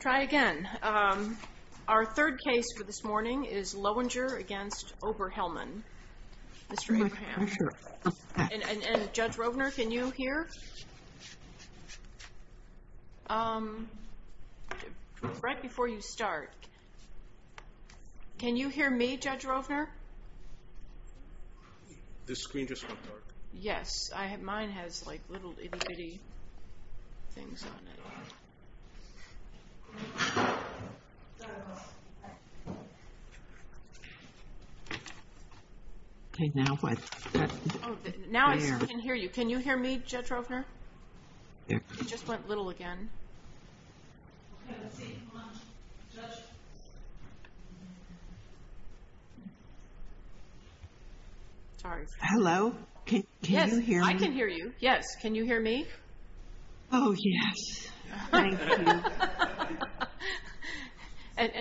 Try again. Our third case for this morning is Lowinger v. Oberhelman. Mr. Abraham, and Judge Rovner, can you hear? Right before you start, can you hear me, Judge Rovner? This screen just went dark. Yes, mine has like little itty bitty things on it. Okay, now what? Now I can hear you. Can you hear me, Judge Rovner? It just went little again. Sorry. Hello, can you hear me? I can hear you, yes. Can you hear me? Oh, yes.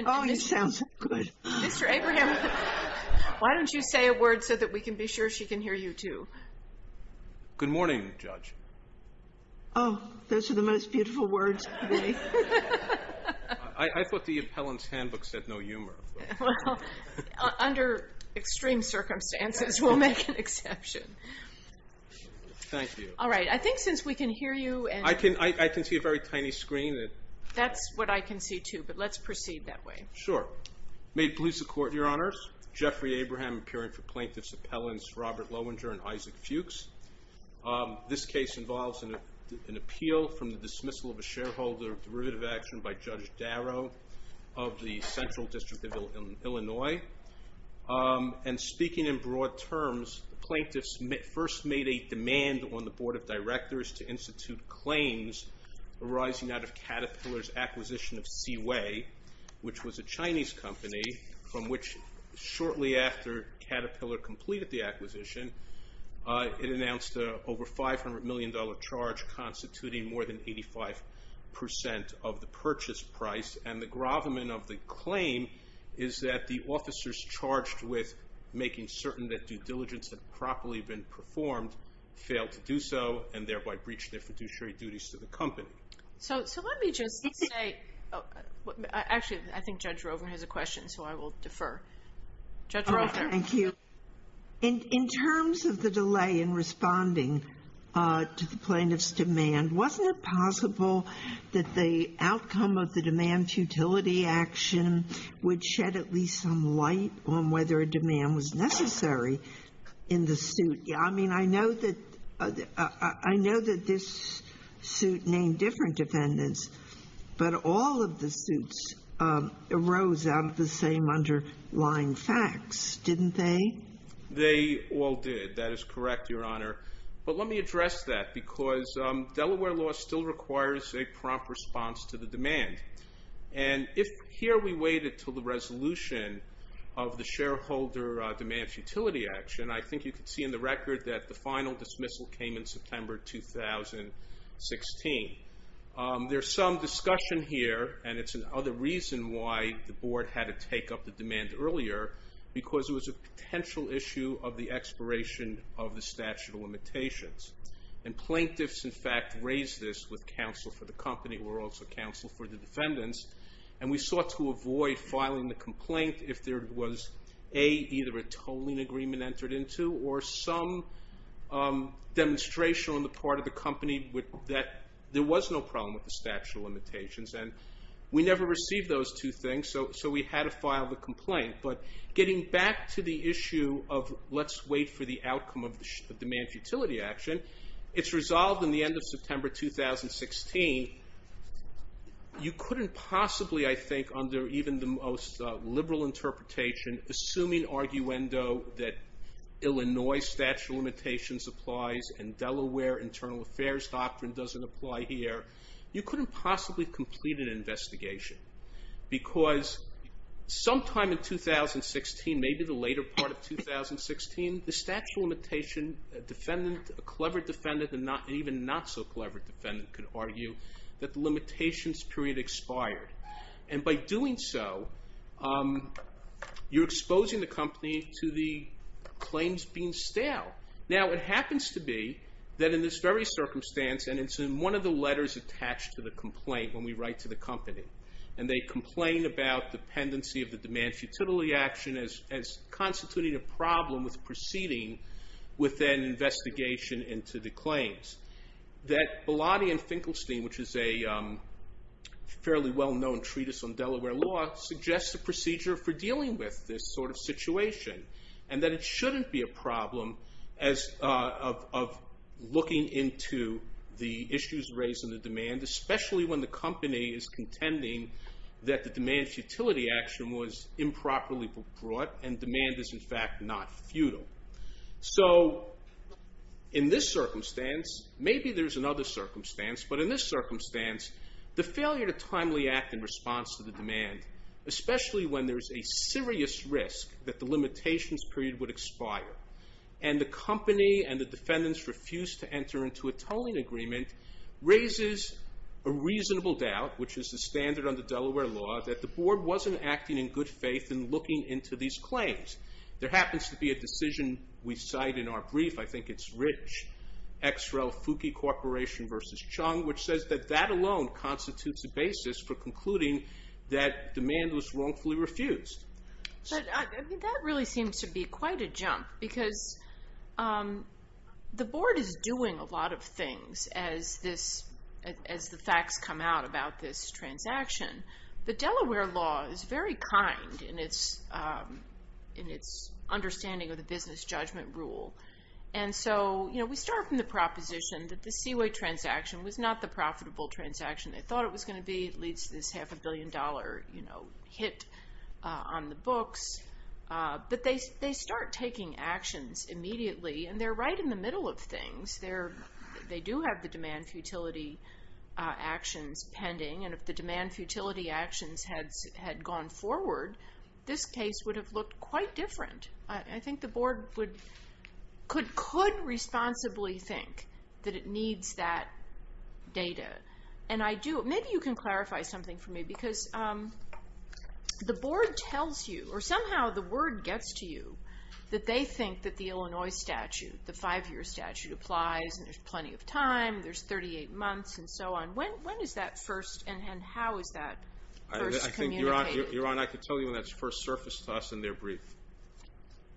Oh, you sound so good. Mr. Abraham, why don't you say a word so that we can be sure she can hear you too? Good morning, Judge. Oh, those are the most beautiful words of the day. I thought the appellant's handbook said no humor. Under extreme circumstances, we'll make an exception. Thank you. All right, I think since we can hear you and... I can see a very tiny screen. That's what I can see too, but let's proceed that way. Sure. May it please the Court, Your Honors. Jeffrey Abraham, appearing for plaintiff's appellants Robert Loewinger and Isaac Fuchs. This case involves an appeal from the dismissal of a shareholder of derivative action by Judge Darrow of the Central District of Illinois. And speaking in broad terms, the plaintiffs first made a demand on the Board of Directors to institute claims arising out of Caterpillar's acquisition of Seaway, which was a Chinese company from which shortly after Caterpillar completed the acquisition, it announced an over $500 million charge constituting more than 85% of the purchase price. And the gravamen of the claim is that the officers charged with making certain that and thereby breached their fiduciary duties to the company. So let me just say... Actually, I think Judge Rovner has a question, so I will defer. Judge Rovner. Thank you. In terms of the delay in responding to the plaintiff's demand, wasn't it possible that the outcome of the demand futility action would shed at least some light on whether a demand was necessary in the suit? I mean, I know that this suit named different defendants, but all of the suits arose out of the same underlying facts, didn't they? They all did. That is correct, Your Honor. But let me address that because Delaware law still requires a prompt response to the demand. And if here we waited till the resolution of the shareholder demand futility action, I think you can see in the record that the final dismissal came in September 2016. There's some discussion here, and it's another reason why the board had to take up the demand earlier, because it was a potential issue of the expiration of the statute of limitations. And plaintiffs, in fact, raised this with counsel for the company, were also counsel for the defendants. And we sought to avoid filing the complaint if there was, A, either a tolling agreement entered into or some demonstration on the part of the company that there was no problem with the statute of limitations. And we never received those two things, so we had to file the complaint. But getting back to the issue of let's wait for the outcome of the demand futility action, it's resolved in the end of September 2016. You couldn't possibly, I think, under even the most liberal interpretation, assuming arguendo that Illinois statute of limitations applies and Delaware internal affairs doctrine doesn't apply here, you couldn't possibly complete an investigation. Because sometime in 2016, maybe the later part of 2016, the statute of limitation defendant, a clever defendant, and even not so clever defendant could argue that the limitations period expired. And by doing so, you're exposing the company to the claims being stale. Now, it happens to be that in this very circumstance, and it's in one of the letters attached to the complaint when we write to the company, and they complain about dependency of the demand futility action as constituting a problem with proceeding with an investigation into the claims. That Bilotti and Finkelstein, which is a fairly well-known treatise on Delaware law, suggests a procedure for dealing with this sort of situation, and that it shouldn't be a problem of looking into the issues raised in the demand, especially when the company is contending that the demand futility action was improperly brought, and demand is in fact not futile. So in this circumstance, maybe there's another circumstance, but in this circumstance, the failure to timely act in response to the demand, especially when there's a serious risk that the limitations period would expire, and the company and the defendants refuse to enter into a tolling agreement, raises a reasonable doubt, which is the standard under Delaware law, that the board wasn't acting in good faith in looking into these claims. There happens to be a decision we cite in our brief, I think it's Rich, Xrel Fuki Corporation versus Chung, which says that that alone constitutes a basis for concluding that demand was wrongfully refused. But that really seems to be quite a jump, because the board is doing a lot of things as the facts come out about this transaction. But Delaware law is very kind in its understanding of the business judgment rule. And so we start from the proposition that the Seaway transaction was not the profitable transaction they thought it was going to be. It leads to this half a billion dollar hit on the books. But they start taking actions immediately, and they're right in the middle of things. They do have the demand futility actions pending. And if the demand futility actions had gone forward, this case would have looked quite different. I think the board could responsibly think that it needs that data. And maybe you can clarify something for me, because the board tells you, or somehow the word gets to you, that they think that the Illinois statute, the five year statute applies, and there's plenty of time, there's 38 months, and so on. When is that first, and how is that first communicated? Your Honor, I can tell you when that's first surfaced to us in their brief.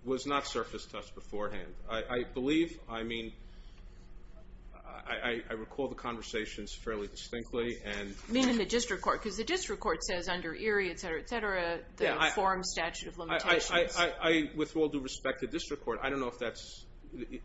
It was not surfaced to us beforehand. I believe, I mean, I recall the conversations fairly distinctly. I mean in the district court, because the district court says under Erie, et cetera, et cetera, the informed statute of limitations. I, with all due respect to district court, I don't know if that's,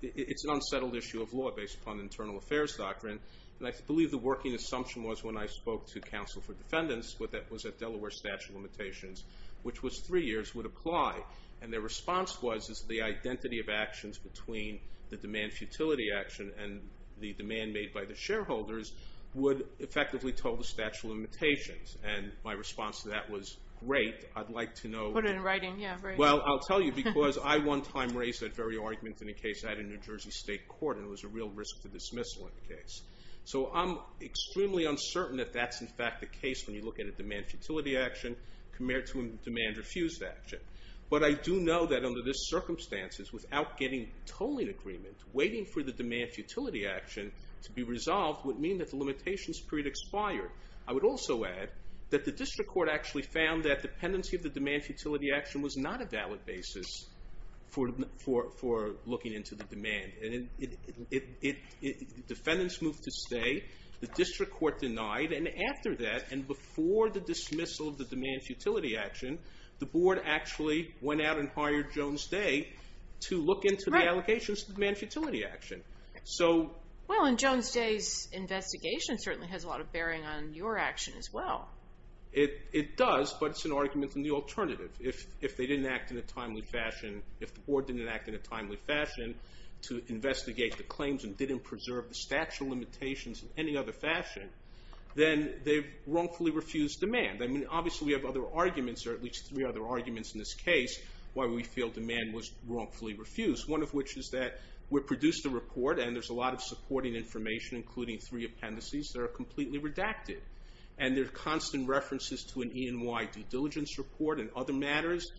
it's an unsettled issue of law based upon internal affairs doctrine. And I believe the working assumption was when I spoke to counsel for defendants, was that Delaware statute of limitations, which was three years, would apply. And their response was, is the identity of actions between the demand futility action and the demand made by the shareholders would effectively total the statute of limitations. And my response to that was, great, I'd like to know. Put it in writing, yeah, great. Well, I'll tell you, because I one time raised that very argument in a case I had in New York, and it was dismissal in the case. So I'm extremely uncertain if that's in fact the case when you look at a demand futility action compared to a demand refused action. But I do know that under this circumstances, without getting tolling agreement, waiting for the demand futility action to be resolved would mean that the limitations period expired. I would also add that the district court actually found that dependency of the demand futility action was not a valid basis for looking into the demand. And defendants moved to stay. The district court denied. And after that, and before the dismissal of the demand futility action, the board actually went out and hired Jones Day to look into the allocations of the demand futility action. Right. Well, and Jones Day's investigation certainly has a lot of bearing on your action as well. It does, but it's an argument in the alternative. If they didn't act in a timely fashion, if the board didn't act in a timely fashion to investigate the claims and didn't preserve the statute of limitations in any other fashion, then they've wrongfully refused demand. I mean, obviously, we have other arguments, or at least three other arguments in this case, why we feel demand was wrongfully refused. One of which is that we produced a report, and there's a lot of supporting information, including three appendices that are completely redacted. And there are constant references to an E&Y due diligence report and other matters.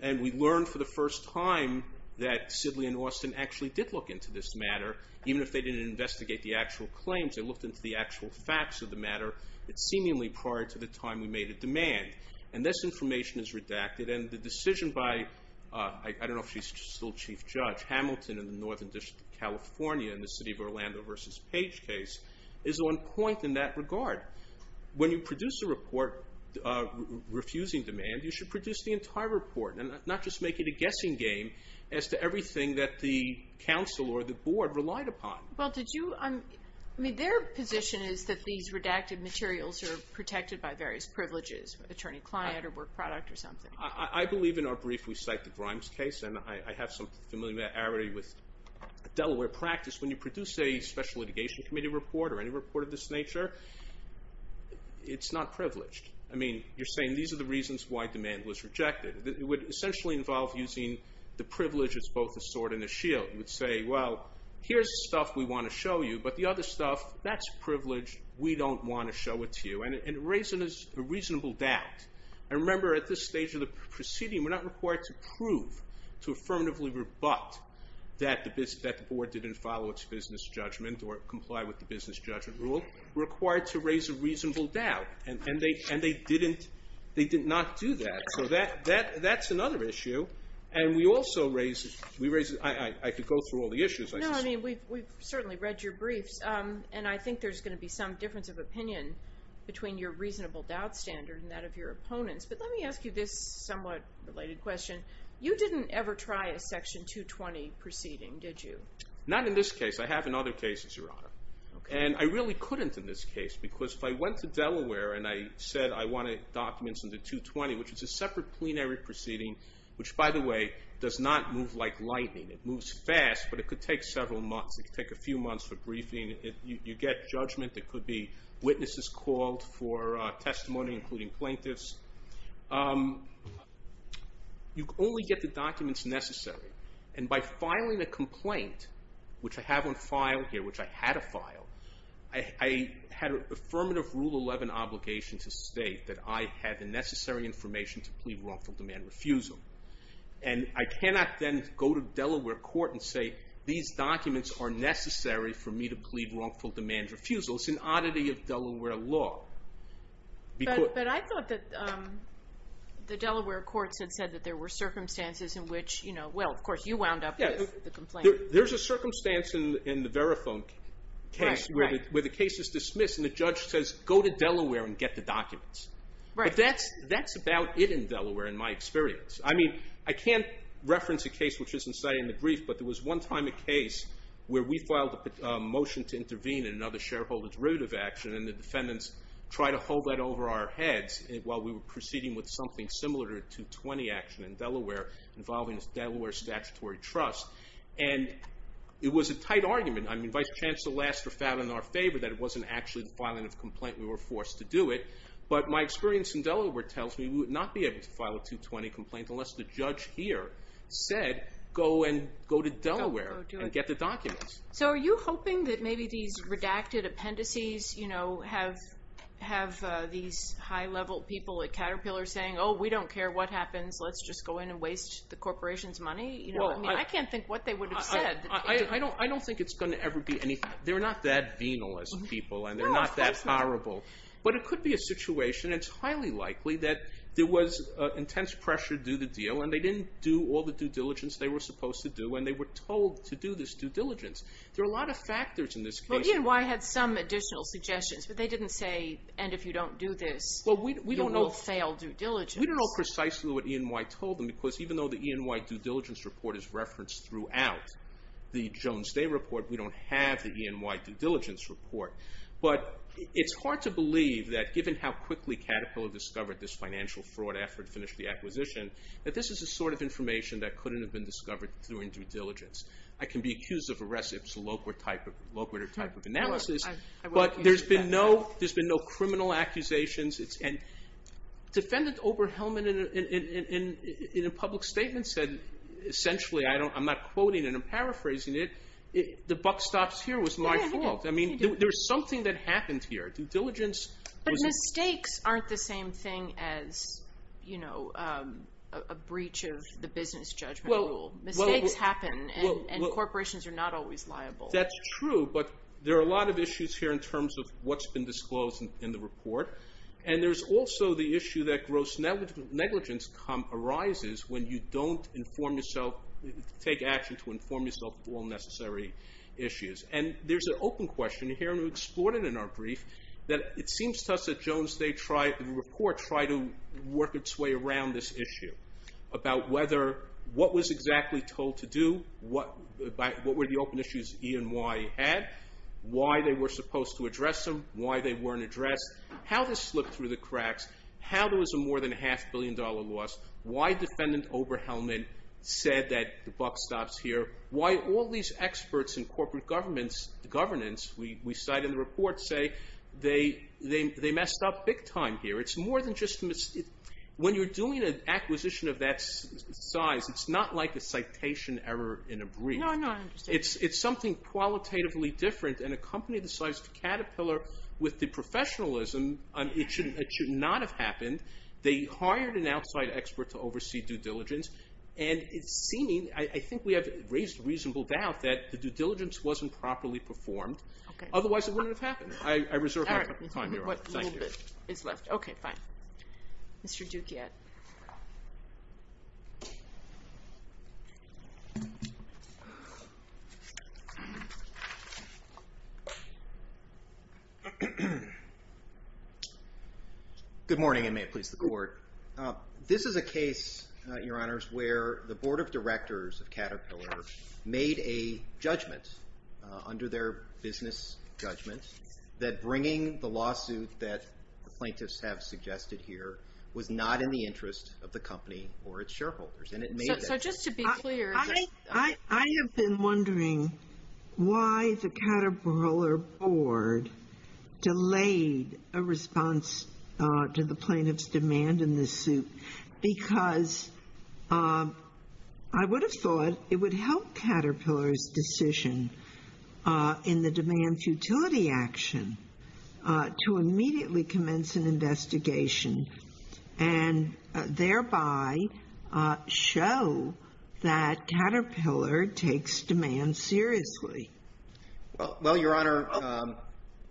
And we learned for the first time that Sidley and Austin actually did look into this matter, even if they didn't investigate the actual claims. They looked into the actual facts of the matter. It's seemingly prior to the time we made a demand. And this information is redacted. And the decision by, I don't know if she's still chief judge, Hamilton in the Northern District of California in the city of Orlando versus Page case is on point in that regard. When you produce a report refusing demand, you should produce the entire report and not just make it a guessing game as to everything that the council or the board relied upon. Well, did you, I mean, their position is that these redacted materials are protected by various privileges, attorney client or work product or something. I believe in our brief, we cite the Grimes case. And I have some familiarity with Delaware practice. When you produce a special litigation committee report or any report of this nature, it's not privileged. I mean, you're saying these are the reasons why demand was rejected. It would essentially involve using the privilege as both a sword and a shield. You would say, well, here's the stuff we want to show you. But the other stuff, that's privileged. We don't want to show it to you. And it raises a reasonable doubt. I remember at this stage of the proceeding, we're not required to prove to affirmatively rebut that the board didn't follow its business judgment or comply with the business judgment rule. We're required to raise a reasonable doubt. And they didn't, they did not do that. So that's another issue. And we also raised, we raised, I could go through all the issues. No, I mean, we've certainly read your briefs. And I think there's going to be some difference of opinion between your reasonable doubt standard and that of your opponents. But let me ask you this somewhat related question. You didn't ever try a section 220 proceeding, did you? Not in this case. I have in other cases, Your Honor. And I really couldn't in this case, because if I went to Delaware and I said I wanted documents in the 220, which is a separate plenary proceeding, which by the way, does not move like lightning. It moves fast, but it could take several months. It could take a few months for briefing. You get judgment. There could be witnesses called for testimony, including plaintiffs. You only get the documents necessary. And by filing a complaint, which I have on file here, which I had to file, I had affirmative rule 11 obligation to state that I had the necessary information to plead wrongful demand refusal. And I cannot then go to Delaware court and say, these documents are necessary for me to plead wrongful demand refusal. It's an oddity of Delaware law. But I thought that the Delaware courts had said that there were circumstances in which, well, of course, you wound up with the complaint. There's a circumstance in the Verifone case where the case is dismissed, and the judge says, go to Delaware and get the documents. But that's about it in Delaware, in my experience. I mean, I can't reference a case which isn't cited in the brief, but there was one time a case where we filed a motion to intervene in another shareholder's derivative action, and the defendants try to hold that over our heads while we were proceeding with something similar to a 220 action in Delaware involving Delaware statutory trust. And it was a tight argument. I mean, Vice Chancellor Laster found in our favor that it wasn't actually the filing of the complaint, we were forced to do it. But my experience in Delaware tells me we would not be able to file a 220 complaint unless the judge here said, go and go to Delaware and get the documents. So are you hoping that maybe these redacted appendices, you know, have these high level people at Caterpillar saying, oh, we don't care what happens. Let's just go in and waste the corporation's money. You know, I can't think what they would have said. I don't think it's going to ever be anything. They're not that venal as people, and they're not that horrible. But it could be a situation. It's highly likely that there was intense pressure to do the deal, and they didn't do all the due diligence they were supposed to do, and they were told to do this due diligence. There are a lot of factors in this case. Well, E&Y had some additional suggestions, but they didn't say, and if you don't do this, you will fail due diligence. We don't know precisely what E&Y told them, because even though the E&Y due diligence report is referenced throughout the Jones Day report, we don't have the E&Y due diligence report. But it's hard to believe that given how quickly Caterpillar discovered this financial fraud after it finished the acquisition, that this is the sort of information that couldn't have been discovered during due diligence. I can be accused of a reciprocal type of analysis, but there's been no criminal accusations. Defendant Oberhelman in a public statement said, essentially, I'm not quoting it, I'm paraphrasing it, the buck stops here was my fault. I mean, there was something that happened here. Due diligence was... But mistakes aren't the same thing as a breach of the business judgment rule. Mistakes happen, and corporations are not always liable. That's true, but there are a lot of issues here in terms of what's been disclosed in the report. And there's also the issue that gross negligence arises when you don't take action to inform yourself of all necessary issues. And there's an open question here, and we explored it in our brief, that it seems to us that the Jones Day report tried to work its way around this issue, about what was exactly told to do, what were the open issues E and Y had, why they were supposed to address them, why they weren't addressed, how this slipped through the cracks, how there was a more than a half billion dollar loss, why Defendant Oberhelman said that the buck stops here, why all these experts in corporate governance, we cite in the report, say they messed up big time here. When you're doing an acquisition of that size, it's not like a citation error in a brief. No, no, I understand. It's something qualitatively different, and a company the size of Caterpillar, with the professionalism, it should not have happened. They hired an outside expert to oversee due diligence, and it's seeming, I think we have raised reasonable doubt that the due diligence wasn't properly performed. Otherwise, it wouldn't have happened. I reserve my time, Your Honor. A little bit is left. Okay, fine. Mr. Dukiat. Good morning, and may it please the Court. This is a case, Your Honors, where the Board of Directors of Caterpillar made a judgment under their business judgment that bringing the lawsuit that the plaintiffs have suggested here was not in the interest of the company or its shareholders. So just to be clear, I have been wondering why the Caterpillar Board delayed a response to the plaintiff's demand in this suit, because I would have thought it would help Caterpillar's decision to immediately commence an investigation, and thereby show that Caterpillar takes demand seriously. Well, Your Honor,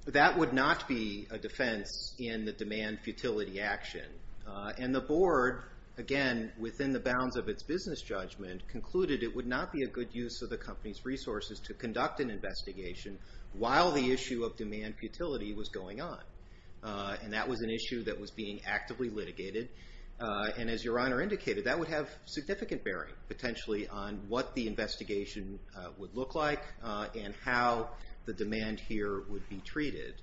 that would not be a defense in the demand futility action. And the Board, again, within the bounds of its business judgment, concluded it would not be a good use of the company's resources to conduct an investigation while the issue of demand futility was going on. And that was an issue that was being actively litigated. And as Your Honor indicated, that would have significant bearing, potentially, on what the investigation would look like and how the demand here would be treated.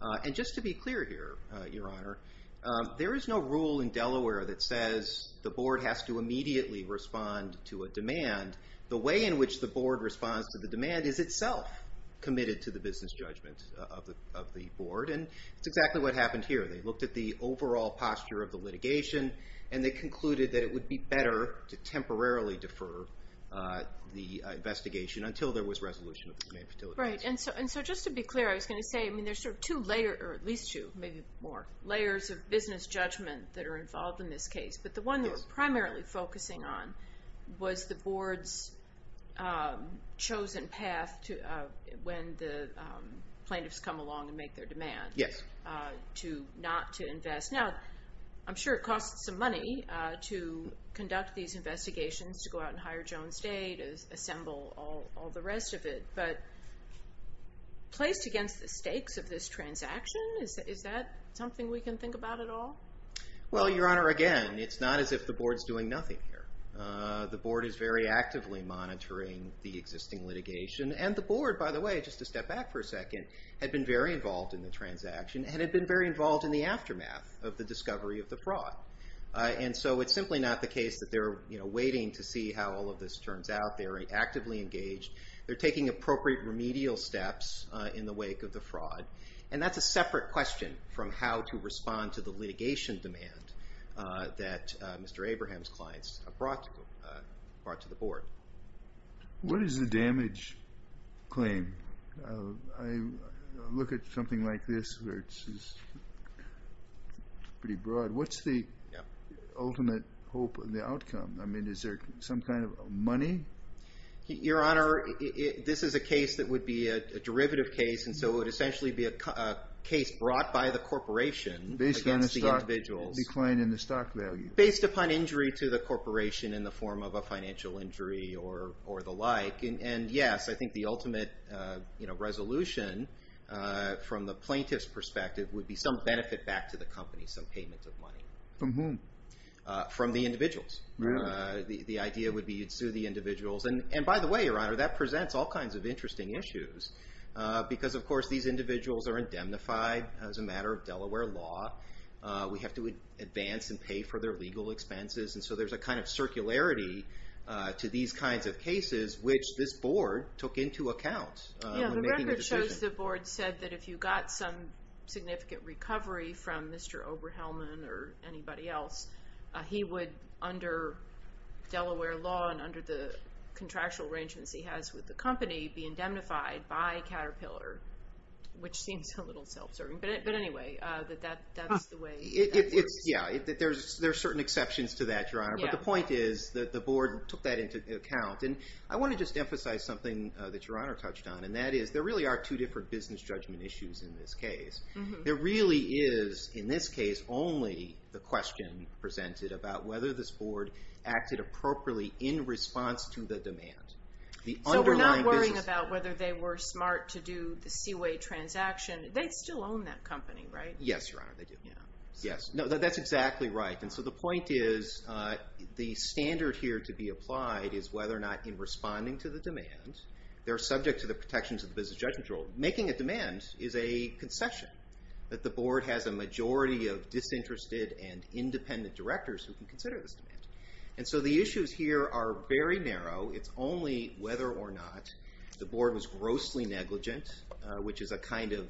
And just to be clear here, Your Honor, there is no rule in Delaware that says the Board has to immediately respond to a demand. The way in which the Board responds to the demand is itself committed to the business judgment of the Board. And that's exactly what happened here. They looked at the overall posture of the litigation, and they concluded that it would be better to temporarily defer the investigation until there was resolution of the demand futility. Right. And so just to be clear, I was going to say, I mean, there's sort of two layers, or at least two, maybe more, layers of business judgment that are involved in this case. But the one that we're primarily focusing on was the Board's chosen path when the plaintiffs come along and make their demand. Yes. To not to invest. Now, I'm sure it costs some money to conduct these investigations, to go out and hire Jones Day, to assemble all the rest of it. But placed against the stakes of this transaction, is that something we can think about at all? Well, Your Honor, again, it's not as if the Board's doing nothing here. The Board is very actively monitoring the existing litigation. And the Board, by the way, just to step back for a second, had been very involved in the transaction and had been very involved in the aftermath of the discovery of the fraud. And so it's simply not the case that they're waiting to see how all of this turns out. They are actively engaged. They're taking appropriate remedial steps in the wake of the fraud. And that's a separate question from how to respond to the litigation demand that Mr. Abraham's clients brought to the Board. What is the damage claim? I look at something like this, where it's pretty broad. What's the ultimate hope and the outcome? I mean, is there some kind of money? Your Honor, this is a case that would be a derivative case. And so it would essentially be a case brought by the corporation against the individuals. A decline in the stock value. Based upon injury to the corporation in the form of a financial injury or the like. And yes, I think the ultimate resolution from the plaintiff's perspective would be some benefit back to the company. Some payment of money. From whom? From the individuals. The idea would be you'd sue the individuals. And by the way, Your Honor, that presents all kinds of interesting issues. Because of course, these individuals are indemnified as a matter of Delaware law. We have to advance and pay for their legal expenses. And so there's a kind of circularity to these kinds of cases which this board took into account. Yeah, the record shows the board said that if you got some significant recovery from Mr. Oberhelman or anybody else, he would, under Delaware law and under the contractual arrangements he has with the company, be indemnified by Caterpillar. Which seems a little self-serving. But anyway, that's the way that works. Yeah, there's certain exceptions to that, Your Honor. But the point is that the board took that into account. And I want to just emphasize something that Your Honor touched on. And that is there really are two different business judgment issues in this case. There really is, in this case, only the question presented about whether this board acted appropriately in response to the demand. So we're not worrying about whether they were smart to do the Seaway transaction. They still own that company, right? Yes, Your Honor, they do. Yeah. Yes. That's exactly right. And so the point is the standard here to be applied is whether or not in responding to the demand, they're subject to the protections of the business judgment rule. Making a demand is a concession. That the board has a majority of disinterested and independent directors who can consider this demand. And so the issues here are very narrow. It's only whether or not the board was grossly negligent, which is a kind of,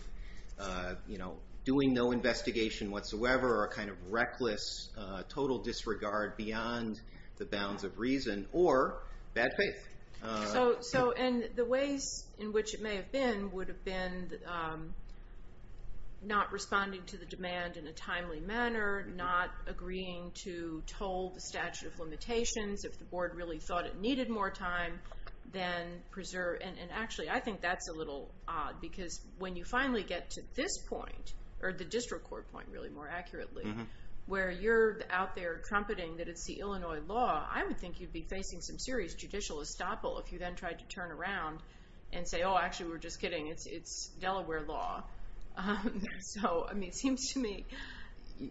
you know, doing no investigation whatsoever or a kind of reckless total disregard beyond the bounds of reason or bad faith. So, and the ways in which it may have been would have been not responding to the demand in a timely manner, not agreeing to toll the statute of limitations if the board really thought it needed more time than preserve. And actually, I think that's a little odd because when you finally get to this point or the district court point really more accurately, where you're out there trumpeting that it's the Illinois law, I would think you'd be facing some serious judicial estoppel if you then tried to turn around and say, oh, actually, we're just kidding. It's Delaware law. So, I mean, it seems to me,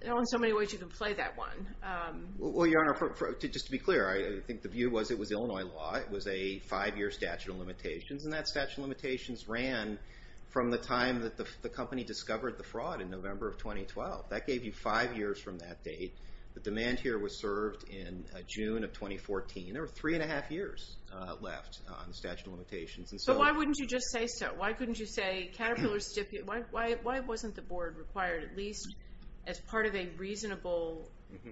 there aren't so many ways you can play that one. Well, Your Honor, just to be clear, I think the view was it was Illinois law. It was a five-year statute of limitations. And that statute of limitations ran from the time that the company discovered the fraud in November of 2012. That gave you five years from that date. The demand here was served in June of 2014. There were three and a half years left on the statute of limitations. But why wouldn't you just say so? Why couldn't you say, Caterpillar, why wasn't the board required at least as part of a reasonable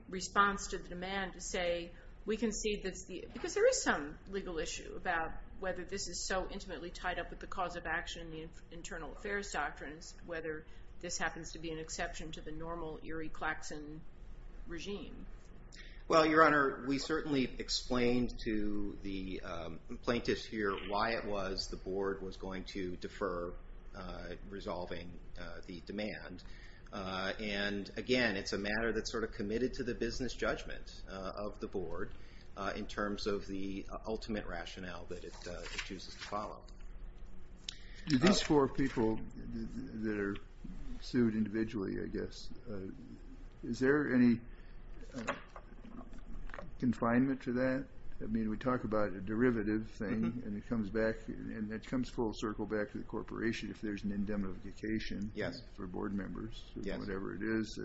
response to the demand to say, we concede that's the, because there is some legal issue about whether this is so intimately tied up with the cause of action, the internal affairs doctrines, whether this happens to be an exception to the normal Erie Claxon regime. Well, Your Honor, we certainly explained to the plaintiffs here why it was the board was going to defer resolving the demand. And again, it's a matter that's sort of committed to the business judgment of the board in terms of the ultimate rationale that it chooses to follow. Do these four people that are sued individually, I guess, is there any confinement to that? I mean, we talk about a derivative thing and it comes back and it comes full circle back to the corporation if there's an indemnification for board members or whatever it is.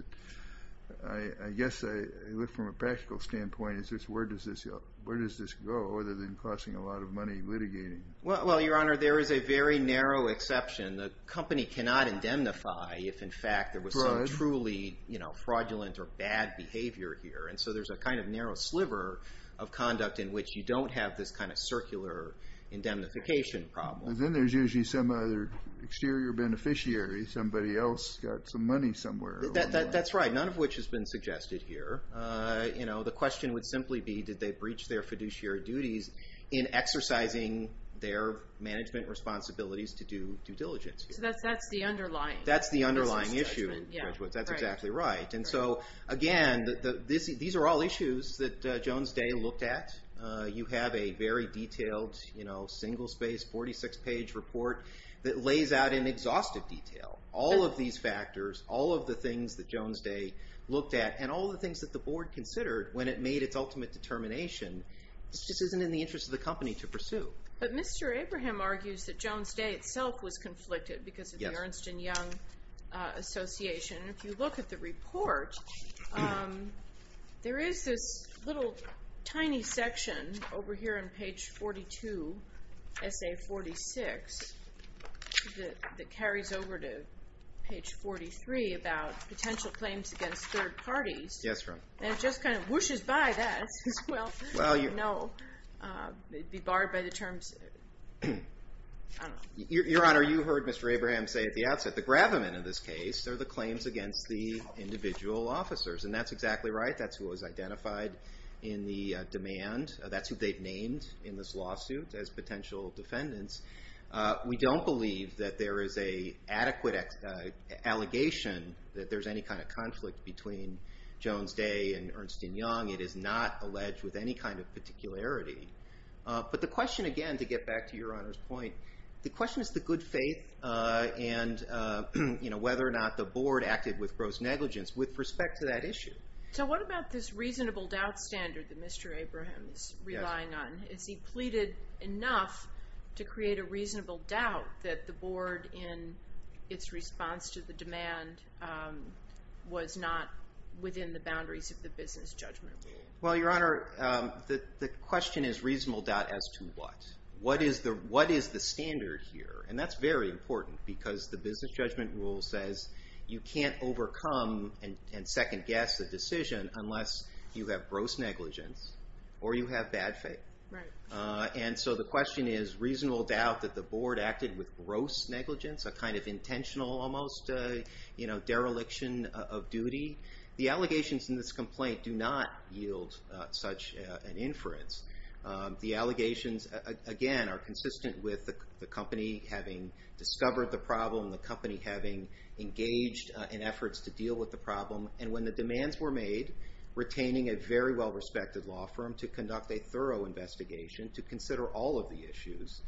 I guess I look from a practical standpoint, is this, where does this go, other than costing a lot of money litigating? Well, Your Honor, there is a very narrow exception. The company cannot indemnify if in fact there was some truly fraudulent or bad behavior here. And so there's a kind of narrow sliver of conduct in which you don't have this kind of circular indemnification problem. Then there's usually some other exterior beneficiary, somebody else got some money somewhere. That's right. None of which has been suggested here. The question would simply be, did they breach their fiduciary duties in exercising their management responsibilities to do due diligence? So that's the underlying. That's the underlying issue, graduates. That's exactly right. And so again, these are all issues that Jones Day looked at. You have a very detailed, single space, 46 page report that lays out in exhaustive detail all of these factors, all of the things that Jones Day looked at and all the things that the board considered when it made its ultimate determination. This just isn't in the interest of the company to pursue. But Mr. Abraham argues that Jones Day itself was conflicted because of the Ernst & Young Association. If you look at the report, there is this little tiny section over here on page 42, essay 46, that carries over to page 43 about potential claims against third parties. Yes, ma'am. And it just kind of whooshes by that. Well, no. It'd be barred by the terms. Your Honor, you heard Mr. Abraham say at the outset, the gravamen in this case are the claims against the individual officers. And that's exactly right. That's who was identified in the demand. That's who they've named in this lawsuit as potential defendants. We don't believe that there is a adequate allegation that there's any kind of conflict between Jones Day and Ernst & Young. It is not alleged with any kind of particularity. But the question, again, to get back to Your Honor's point, the question is the good faith and whether or not the board acted with gross negligence with respect to that issue. So what about this reasonable doubt standard that Mr. Abraham is relying on? Has he pleaded enough to create a reasonable doubt that the board, in its response to the demand, was not within the boundaries of the business judgment rule? Well, Your Honor, the question is reasonable doubt as to what? What is the standard here? And that's very important because the business judgment rule says you can't overcome and second guess the decision unless you have gross negligence or you have bad faith. And so the question is reasonable doubt that the board acted with gross negligence, a kind of intentional, almost dereliction of duty. The allegations in this complaint do not yield such an inference. The allegations, again, are consistent with the company having discovered the problem, the company having engaged in efforts to deal with the problem. And when the demands were made, retaining a very well-respected law firm to conduct a thorough investigation, to consider all of the issues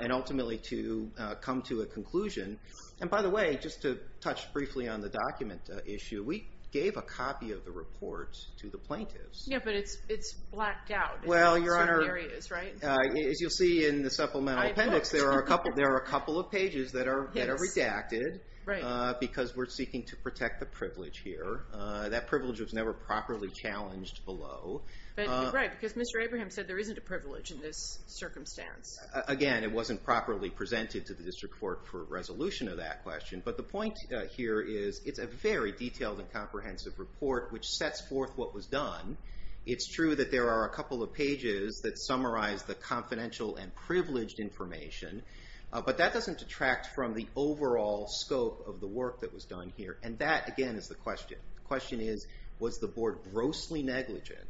and ultimately to come to a conclusion. And by the way, just to touch briefly on the document issue, we gave a copy of the report to the plaintiffs. Yeah, but it's blacked out. Well, Your Honor, as you'll see in the supplemental appendix, there are a couple of pages that are redacted because we're seeking to protect the privilege here. That privilege was never properly challenged below. But you're right, because Mr. Abraham said there isn't a privilege in this circumstance. Again, it wasn't properly presented to the district court for resolution of that question. But the point here is it's a very detailed and comprehensive report which sets forth what was done. It's true that there are a couple of pages that summarize the confidential and privileged information. But that doesn't detract from the overall scope of the work that was done here. And that, again, is the question. The question is, was the board grossly negligent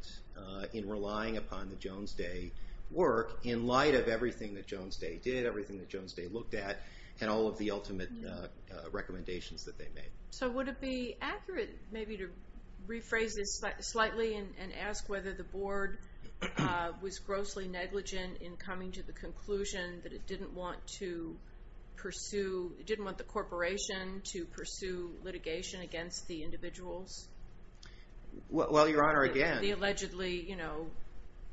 in relying upon the Jones Day work in light of everything that Jones Day did, everything that Jones Day looked at, and all of the ultimate recommendations that they made? So would it be accurate maybe to rephrase this slightly and ask whether the board was grossly negligent in coming to the conclusion that it didn't want to pursue, it didn't want the corporation to pursue litigation against the individuals? Well, Your Honor, again. The allegedly, you know,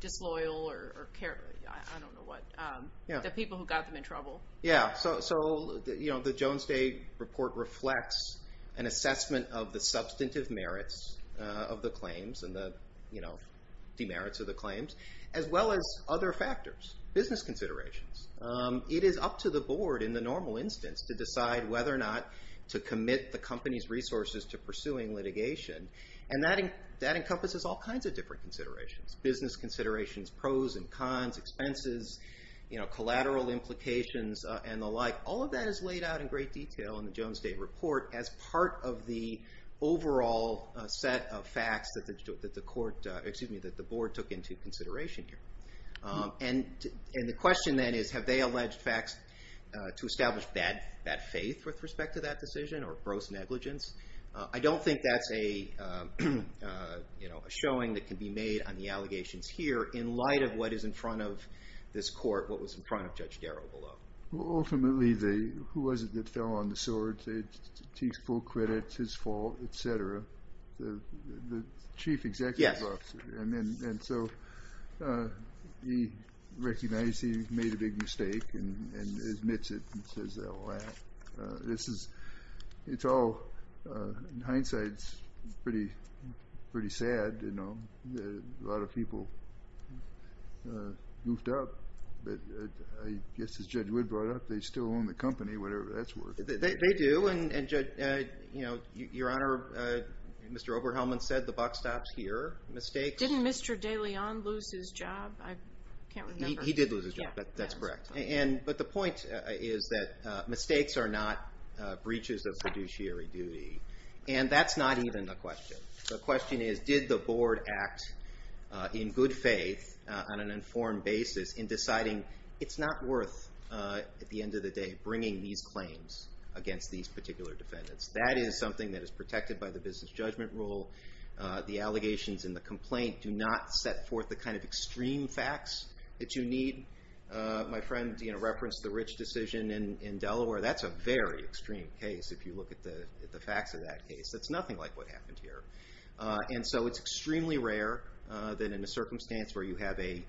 disloyal or I don't know what. The people who got them in trouble. Yeah, so the Jones Day report reflects an assessment of the substantive merits of the claims and the, you know, demerits of the claims, as well as other factors, business considerations. It is up to the board in the normal instance to decide whether or not to commit the company's resources to pursuing litigation. And that encompasses all kinds of different considerations, business considerations, pros and cons, expenses, you know, collateral implications and the like. All of that is laid out in great detail in the Jones Day report as part of the overall set of facts that the court, excuse me, that the board took into consideration here. And the question then is, have they alleged facts to establish bad faith with respect to that decision or gross negligence? I don't think that's a, you know, a showing that can be made on the allegations here in light of what is in front of this court, what was in front of Judge Darrow below. Ultimately, who was it that fell on the sword? Say it's Teague's full credit, it's his fault, et cetera. The chief executive officer. And then, and so he recognized he made a big mistake and admits it and says that will happen. This is, it's all, in hindsight, it's pretty, pretty sad, you know, that a lot of people goofed up. But I guess as Judge Wood brought up, they still own the company, whatever, that's worth it. They do, and Judge, you know, Your Honor, Mr. Oberhelman said the buck stops here. Mistakes. Didn't Mr. DeLeon lose his job? I can't remember. He did lose his job, that's correct. And, but the point is that mistakes are not breaches of fiduciary duty. And that's not even the question. The question is, did the board act in good faith on an informed basis in deciding it's not worth at the end of the day bringing these claims against these particular defendants. That is something that is protected by the business judgment rule. The allegations in the complaint do not set forth the kind of extreme facts that you need. My friend, you know, referenced the Rich decision in Delaware. That's a very extreme case if you look at the facts of that case. That's nothing like what happened here. And so it's extremely rare that in a circumstance where you have a,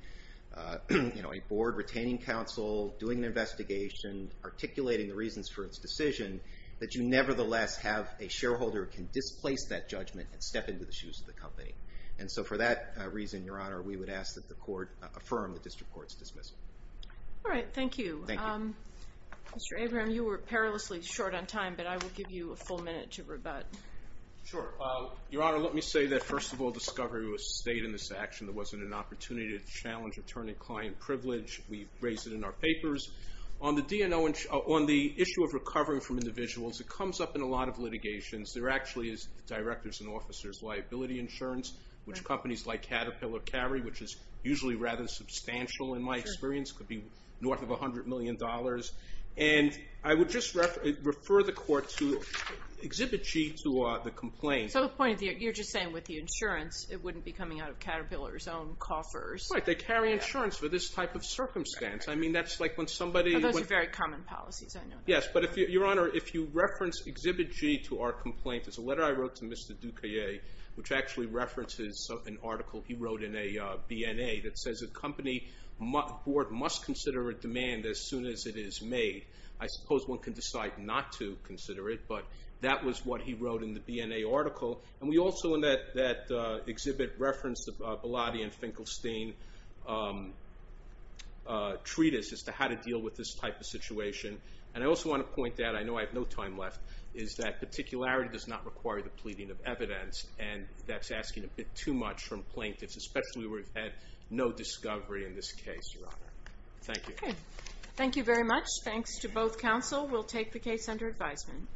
you know, a board retaining counsel, doing an investigation, articulating the reasons for its decision, that you nevertheless have a shareholder who can displace that judgment and step into the shoes of the company. And so for that reason, Your Honor, we would ask that the court affirm the district court's dismissal. All right, thank you. Mr. Abram, you were perilously short on time, but I will give you a full minute to rebut. Sure. Your Honor, let me say that first of all, discovery was stayed in this action. There wasn't an opportunity to challenge attorney-client privilege. We've raised it in our papers. On the issue of recovering from individuals, it comes up in a lot of litigations. There actually is directors and officers liability insurance, which companies like Caterpillar carry, which is usually rather substantial in my experience, could be north of $100 million. And I would just refer the court to exhibit G to the complaint. So the point of the, you're just saying with the insurance, it wouldn't be coming out of Caterpillar's own coffers. Right, they carry insurance for this type of circumstance. I mean, that's like when somebody... Those are very common policies, I know. Yes, but Your Honor, if you reference exhibit G to our complaint, there's a letter I wrote to Mr. Duque, which actually references an article he wrote in a BNA that says a company board must consider a demand as soon as it is made. I suppose one can decide not to consider it, but that was what he wrote in the BNA article. And we also, in that exhibit, referenced the Bellotti and Finkelstein treatise as to how to deal with this type of situation. And I also want to point out, I know I have no time left, is that particularity does not require the pleading of evidence. And that's asking a bit too much from plaintiffs, especially where we've had no discovery in this case, Your Honor. Thank you. Thank you very much. Thanks to both counsel. We'll take the case under advisement.